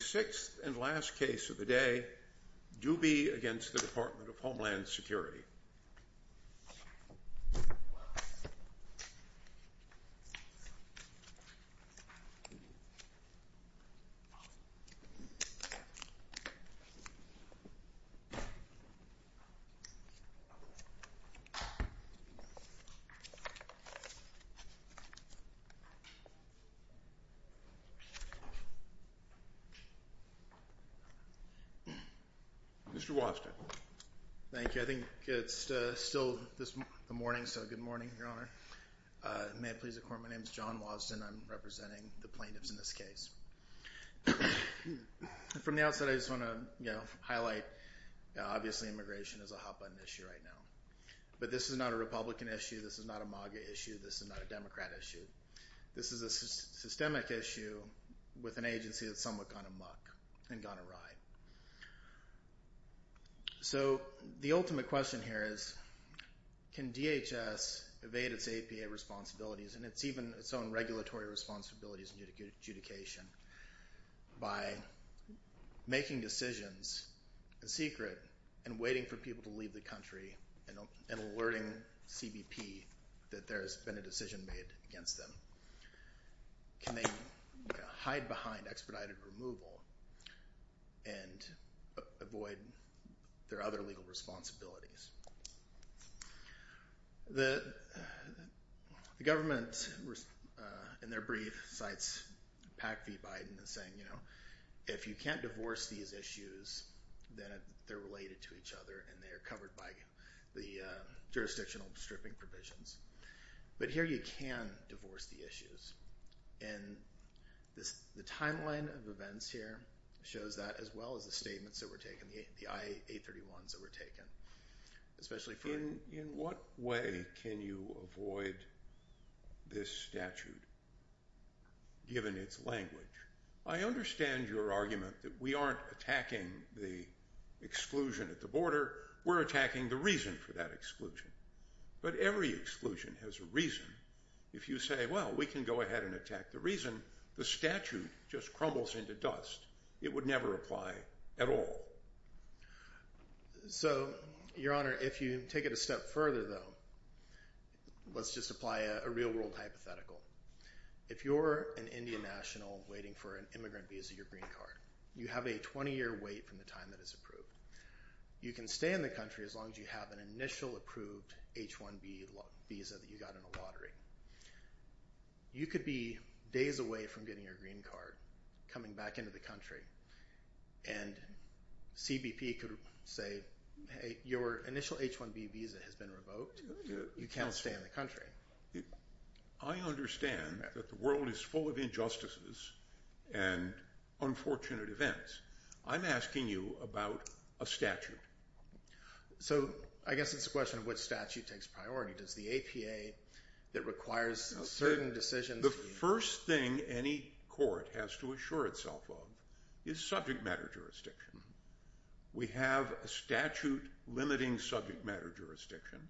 The sixth and last case of the day, Dubey v. Department of Homeland Security Mr. Wobston. Thank you. I think it's still the morning, so good morning, Your Honor. May it please the Court, my name is John Wobston. I'm representing the plaintiffs in this case. From the outset, I just want to highlight, obviously, immigration is a hot-button issue right now. But this is not a Republican issue, this is not a MAGA issue, this is not a Democrat issue. This is a systemic issue with an agency that's somewhat gone amok and gone awry. So the ultimate question here is, can DHS evade its APA responsibilities, and even its own regulatory responsibilities in adjudication, by making decisions secret and waiting for people to leave the country and alerting CBP that there's been a decision made against them? Can they hide behind expedited removal and avoid their other legal responsibilities? The government, in their brief, cites PAC v. Biden as saying, you know, the jurisdictional stripping provisions. But here you can divorce the issues. And the timeline of events here shows that, as well as the statements that were taken, the I-831s that were taken. In what way can you avoid this statute, given its language? I understand your argument that we aren't attacking the exclusion at the border, we're attacking the reason for that exclusion. But every exclusion has a reason. If you say, well, we can go ahead and attack the reason, the statute just crumbles into dust. It would never apply at all. So, Your Honor, if you take it a step further, though, let's just apply a real-world hypothetical. If you're an Indian national waiting for an immigrant visa, your green card, you have a 20-year wait from the time that it's approved. You can stay in the country as long as you have an initial approved H-1B visa that you got in a lottery. You could be days away from getting your green card, coming back into the country, and CBP could say, hey, your initial H-1B visa has been revoked. You can't stay in the country. I understand that the world is full of injustices and unfortunate events. I'm asking you about a statute. So I guess it's a question of which statute takes priority. Does the APA that requires certain decisions? The first thing any court has to assure itself of is subject matter jurisdiction. We have a statute limiting subject matter jurisdiction.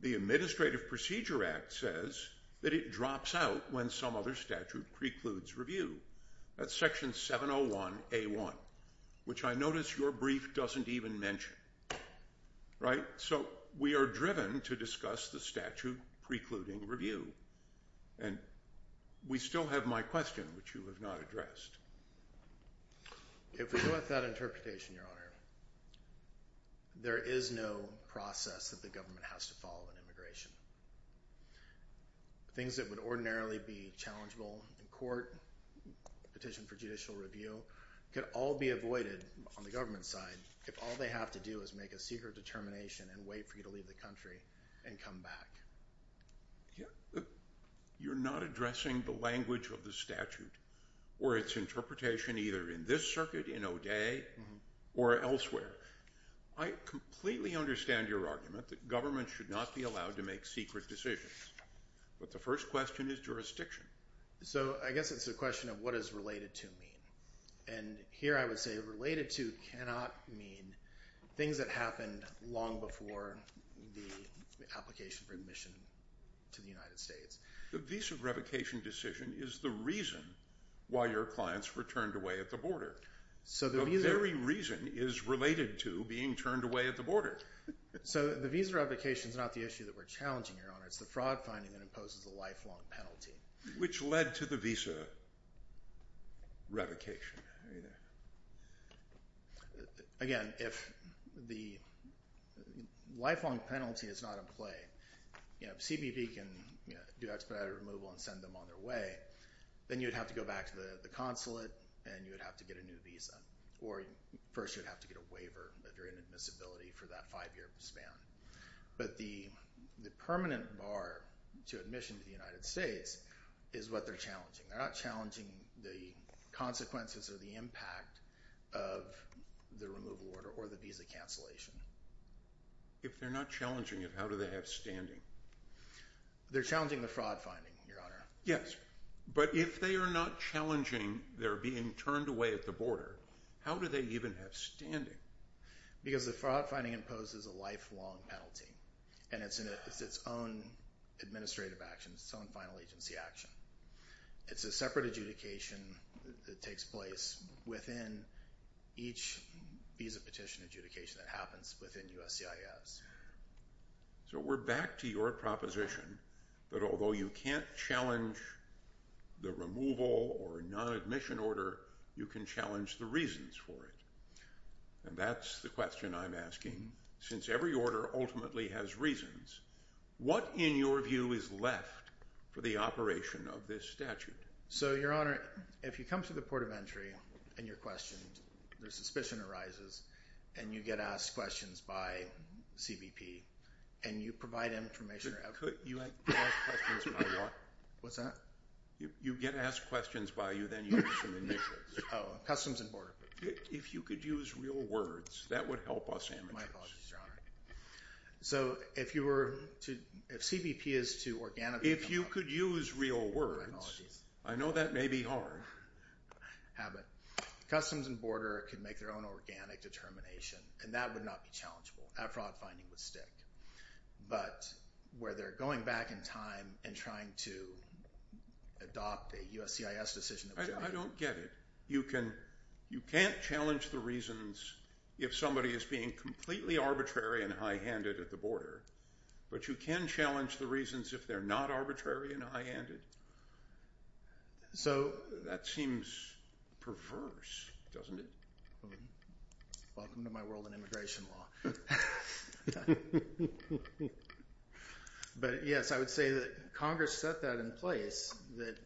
The Administrative Procedure Act says that it drops out when some other statute precludes review. That's Section 701A1, which I notice your brief doesn't even mention, right? So we are driven to discuss the statute precluding review, and we still have my question, which you have not addressed. If we go with that interpretation, Your Honor, there is no process that the government has to follow in immigration. Things that would ordinarily be challengeable in court, petition for judicial review, could all be avoided on the government side if all they have to do is make a secret determination and wait for you to leave the country and come back. You're not addressing the language of the statute or its interpretation either in this circuit in O'Day or elsewhere. I completely understand your argument that government should not be allowed to make secret decisions, but the first question is jurisdiction. So I guess it's a question of what does related to mean? And here I would say related to cannot mean things that happened long before the application for admission to the United States. The visa revocation decision is the reason why your clients were turned away at the border. The very reason is related to being turned away at the border. So the visa revocation is not the issue that we're challenging, Your Honor. It's the fraud finding that imposes a lifelong penalty. Which led to the visa revocation. Again, if the lifelong penalty is not in play, CBP can do expedited removal and send them on their way. Then you'd have to go back to the consulate and you'd have to get a new visa. Or first you'd have to get a waiver if you're in admissibility for that five year span. But the permanent bar to admission to the United States is what they're challenging. They're not challenging the consequences or the impact of the removal order or the visa cancellation. If they're not challenging it, how do they have standing? They're challenging the fraud finding, Your Honor. Yes, but if they are not challenging their being turned away at the border, how do they even have standing? Because the fraud finding imposes a lifelong penalty. And it's its own administrative action, its own final agency action. It's a separate adjudication that takes place within each visa petition adjudication that happens within USCIS. So we're back to your proposition that although you can't challenge the removal or non-admission order, you can challenge the reasons for it. And that's the question I'm asking. Since every order ultimately has reasons, what in your view is left for the operation of this statute? So, Your Honor, if you come to the port of entry and you're questioned, there's suspicion arises, and you get asked questions by CBP, and you provide information. You get asked questions by what? What's that? You get asked questions by you, then you get some initials. Oh, customs and border. If you could use real words, that would help us. My apologies, Your Honor. So if you were to, if CBP is to organically come up with. If you could use real words. My apologies. I know that may be hard. Customs and border could make their own organic determination, and that would not be challengeable. That fraud finding would stick. But where they're going back in time and trying to adopt a USCIS decision. I don't get it. You can't challenge the reasons if somebody is being completely arbitrary and high-handed at the border, but you can challenge the reasons if they're not arbitrary and high-handed. So that seems perverse, doesn't it? Welcome to my world in immigration law. But, yes, I would say that Congress set that in place, that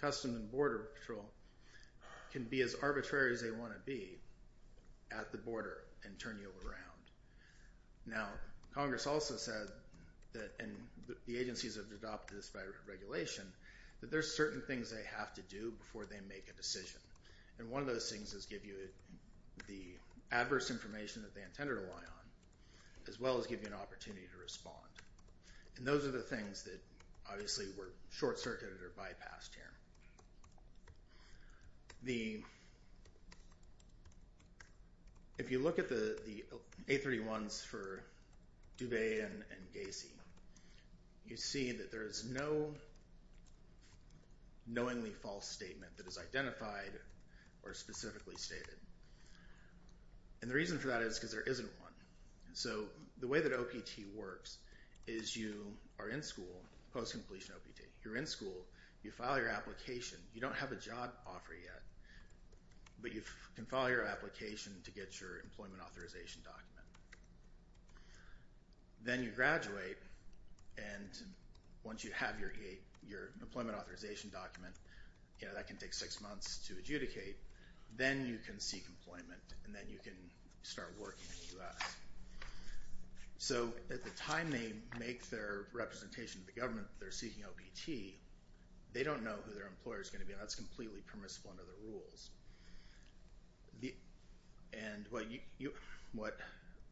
customs and border patrol can be as arbitrary as they want to be at the border and turn you around. Now, Congress also said that, and the agencies have adopted this by regulation, that there's certain things they have to do before they make a decision. And one of those things is give you the adverse information that they intend to rely on, as well as give you an opportunity to respond. And those are the things that obviously were short-circuited or bypassed here. If you look at the 831s for Dubé and Gacy, you see that there is no knowingly false statement that is identified or specifically stated. And the reason for that is because there isn't one. So the way that OPT works is you are in school, post-completion OPT. You're in school. You file your application. You don't have a job offer yet, but you can file your application to get your employment authorization document. Then you graduate, and once you have your employment authorization document, that can take six months to adjudicate. Then you can seek employment, and then you can start working in the U.S. So at the time they make their representation to the government that they're seeking OPT, they don't know who their employer is going to be, and that's completely permissible under the rules. And what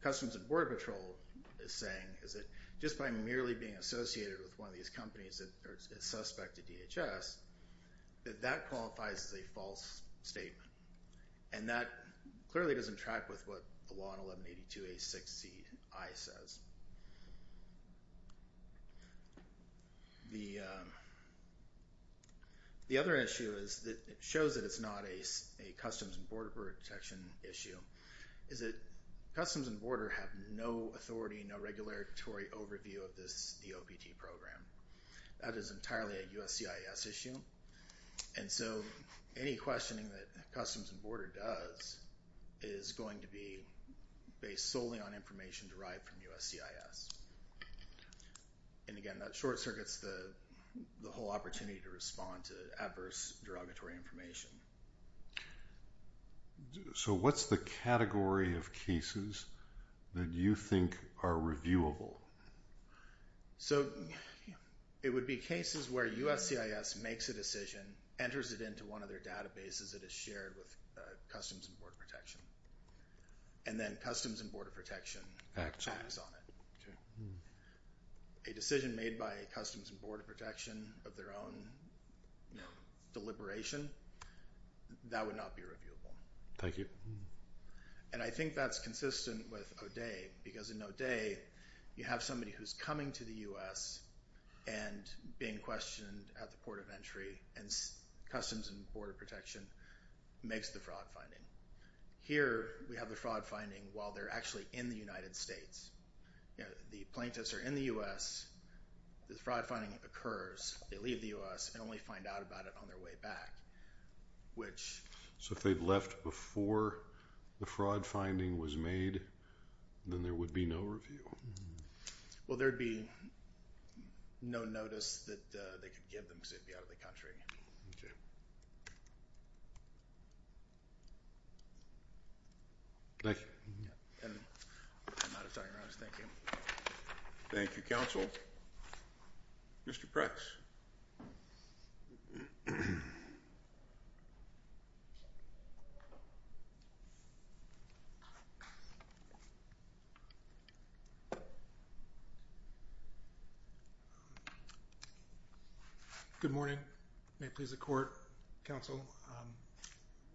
Customs and Border Patrol is saying is that just by merely being associated with one of these companies that are a suspect to DHS, that that qualifies as a false statement. And that clearly doesn't track with what the law in 1182A.6C.I. says. The other issue is that it shows that it's not a Customs and Border Protection issue, is that Customs and Border have no authority, no regulatory overview of this OPT program. That is entirely a USCIS issue. And so any questioning that Customs and Border does is going to be based solely on information derived from USCIS. And again, that short-circuits the whole opportunity to respond to adverse derogatory information. So what's the category of cases that you think are reviewable? So it would be cases where USCIS makes a decision, enters it into one of their databases that is shared with Customs and Border Protection, and then Customs and Border Protection acts on it. A decision made by Customs and Border Protection of their own deliberation, that would not be reviewable. Thank you. And I think that's consistent with O'Day. Because in O'Day, you have somebody who's coming to the U.S. and being questioned at the port of entry, and Customs and Border Protection makes the fraud finding. Here, we have the fraud finding while they're actually in the United States. The plaintiffs are in the U.S., the fraud finding occurs, they leave the U.S., and only find out about it on their way back. So if they'd left before the fraud finding was made, then there would be no review. Well, there'd be no notice that they could give them because they'd be out of the country. Okay. Thank you. And I'm out of time. I'll just thank you. Thank you, Counsel. Mr. Pretz. Good morning. May it please the Court, Counsel.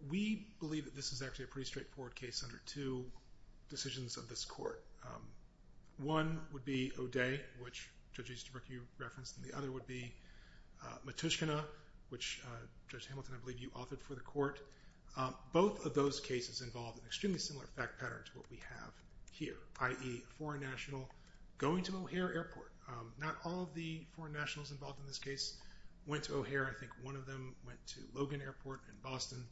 We believe that this is actually a pretty straightforward case under two decisions of this Court. One would be O'Day, which Judge Easterbrook, you referenced, and the other would be Matushkina, which Judge Hamilton, I believe you authored for the Court. Both of those cases involve an extremely similar fact pattern to what we have here, i.e., a foreign national going to O'Hare Airport. Not all of the foreign nationals involved in this case went to O'Hare. I think one of them went to Logan Airport in Boston.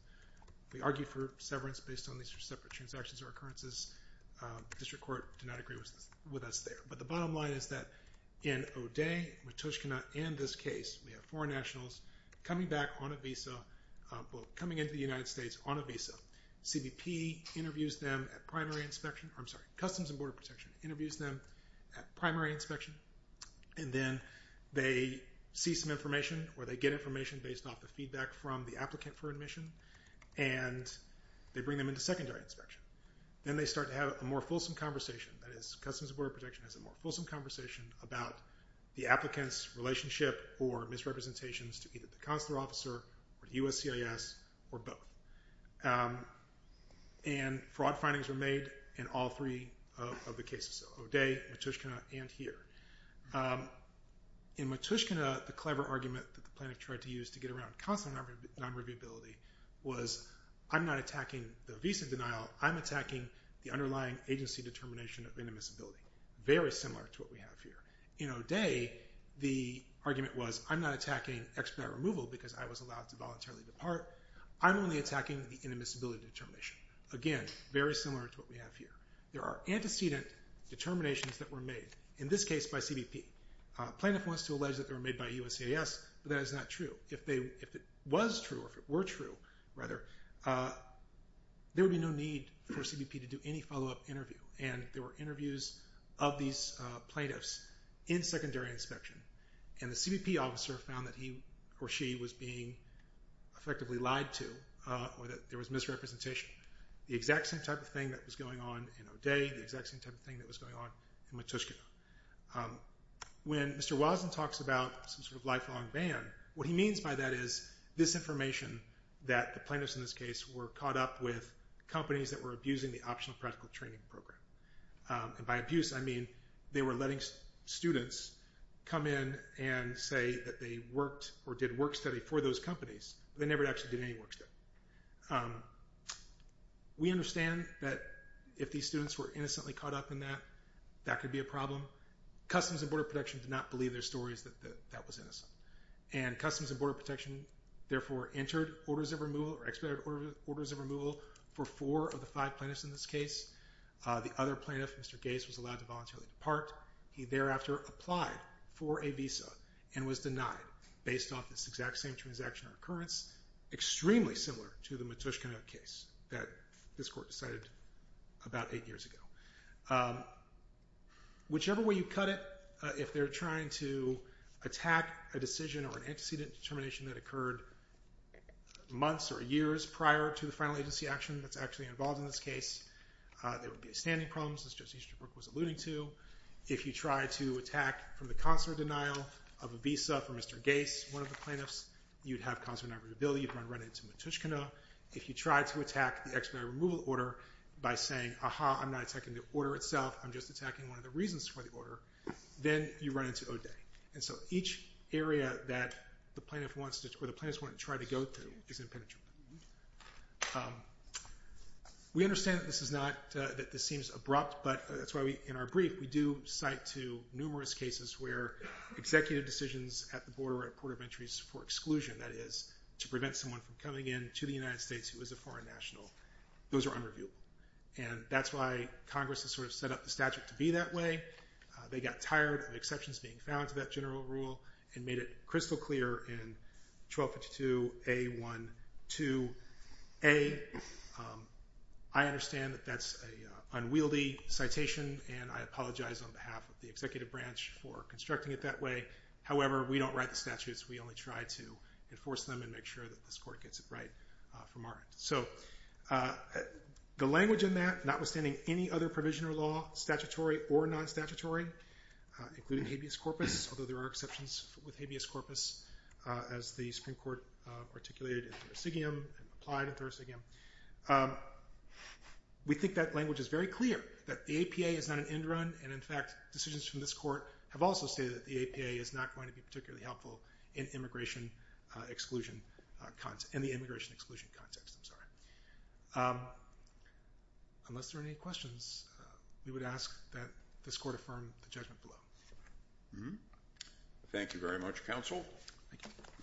We argue for severance based on these separate transactions or occurrences. The District Court did not agree with us there. But the bottom line is that in O'Day, Matushkina, and this case, we have foreign nationals coming back on a visa, well, coming into the United States on a visa. CBP interviews them at primary inspection. I'm sorry, Customs and Border Protection interviews them at primary inspection. And then they see some information or they get information based off the feedback from the applicant for admission. And they bring them into secondary inspection. Then they start to have a more fulsome conversation. That is, Customs and Border Protection has a more fulsome conversation about the applicant's relationship or misrepresentations to either the consular officer or the USCIS or both. And fraud findings were made in all three of the cases, O'Day, Matushkina, and here. In Matushkina, the clever argument that the plaintiff tried to use to get around consular non-reviewability was, I'm not attacking the visa denial. I'm attacking the underlying agency determination of inadmissibility. Very similar to what we have here. In O'Day, the argument was, I'm not attacking expedite removal because I was allowed to voluntarily depart. I'm only attacking the inadmissibility determination. Again, very similar to what we have here. There are antecedent determinations that were made, in this case, by CBP. Plaintiff wants to allege that they were made by USCIS, but that is not true. If it was true or if it were true, rather, there would be no need for CBP to do any follow-up interview. And there were interviews of these plaintiffs in secondary inspection. And the CBP officer found that he or she was being effectively lied to or that there was misrepresentation. The exact same type of thing that was going on in O'Day, the exact same type of thing that was going on in Matushkina. When Mr. Watson talks about some sort of lifelong ban, what he means by that is this information, that the plaintiffs in this case were caught up with companies that were abusing the optional practical training program. And by abuse, I mean they were letting students come in and say that they worked or did work study for those companies. They never actually did any work study. We understand that if these students were innocently caught up in that, that could be a problem. Customs and Border Protection did not believe their stories that that was innocent. And Customs and Border Protection, therefore, entered orders of removal or expedited orders of removal for four of the five plaintiffs in this case. The other plaintiff, Mr. Gates, was allowed to voluntarily depart. He thereafter applied for a visa and was denied based off this exact same transaction or occurrence. Extremely similar to the Matushkina case that this court decided about eight years ago. Whichever way you cut it, if they're trying to attack a decision or an antecedent determination that occurred months or years prior to the final agency action that's actually involved in this case, there would be a standing problem, as Justice Easterbrook was alluding to. If you try to attack from the consular denial of a visa for Mr. Gates, one of the plaintiffs, you'd have consular deniability, you'd run into Matushkina. If you try to attack the expedited removal order by saying, aha, I'm not attacking the order itself, I'm just attacking one of the reasons for the order, then you run into O'Day. And so each area that the plaintiff wants to try to go to is impenetrable. We understand that this seems abrupt, but that's why in our brief we do cite to numerous cases where executive decisions at the border or at port of entries for exclusion, that is, to prevent someone from coming in to the United States who is a foreign national, those are unreviewable. And that's why Congress has sort of set up the statute to be that way. They got tired of exceptions being found to that general rule and made it crystal clear in 1252A12A. I understand that that's an unwieldy citation, and I apologize on behalf of the executive branch for constructing it that way. However, we don't write the statutes. We only try to enforce them and make sure that this Court gets it right from our end. So the language in that, notwithstanding any other provision or law, statutory or non-statutory, including habeas corpus, although there are exceptions with habeas corpus, as the Supreme Court articulated in Thurasigium and applied in Thurasigium, we think that language is very clear, that the APA is not an end run, and in fact decisions from this Court have also stated that the APA is not going to be particularly helpful in the immigration exclusion context. Unless there are any questions, we would ask that this Court affirm the judgment below. Thank you very much, Counsel.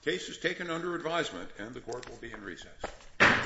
The case is taken under advisement, and the Court will be in recess. Thank you.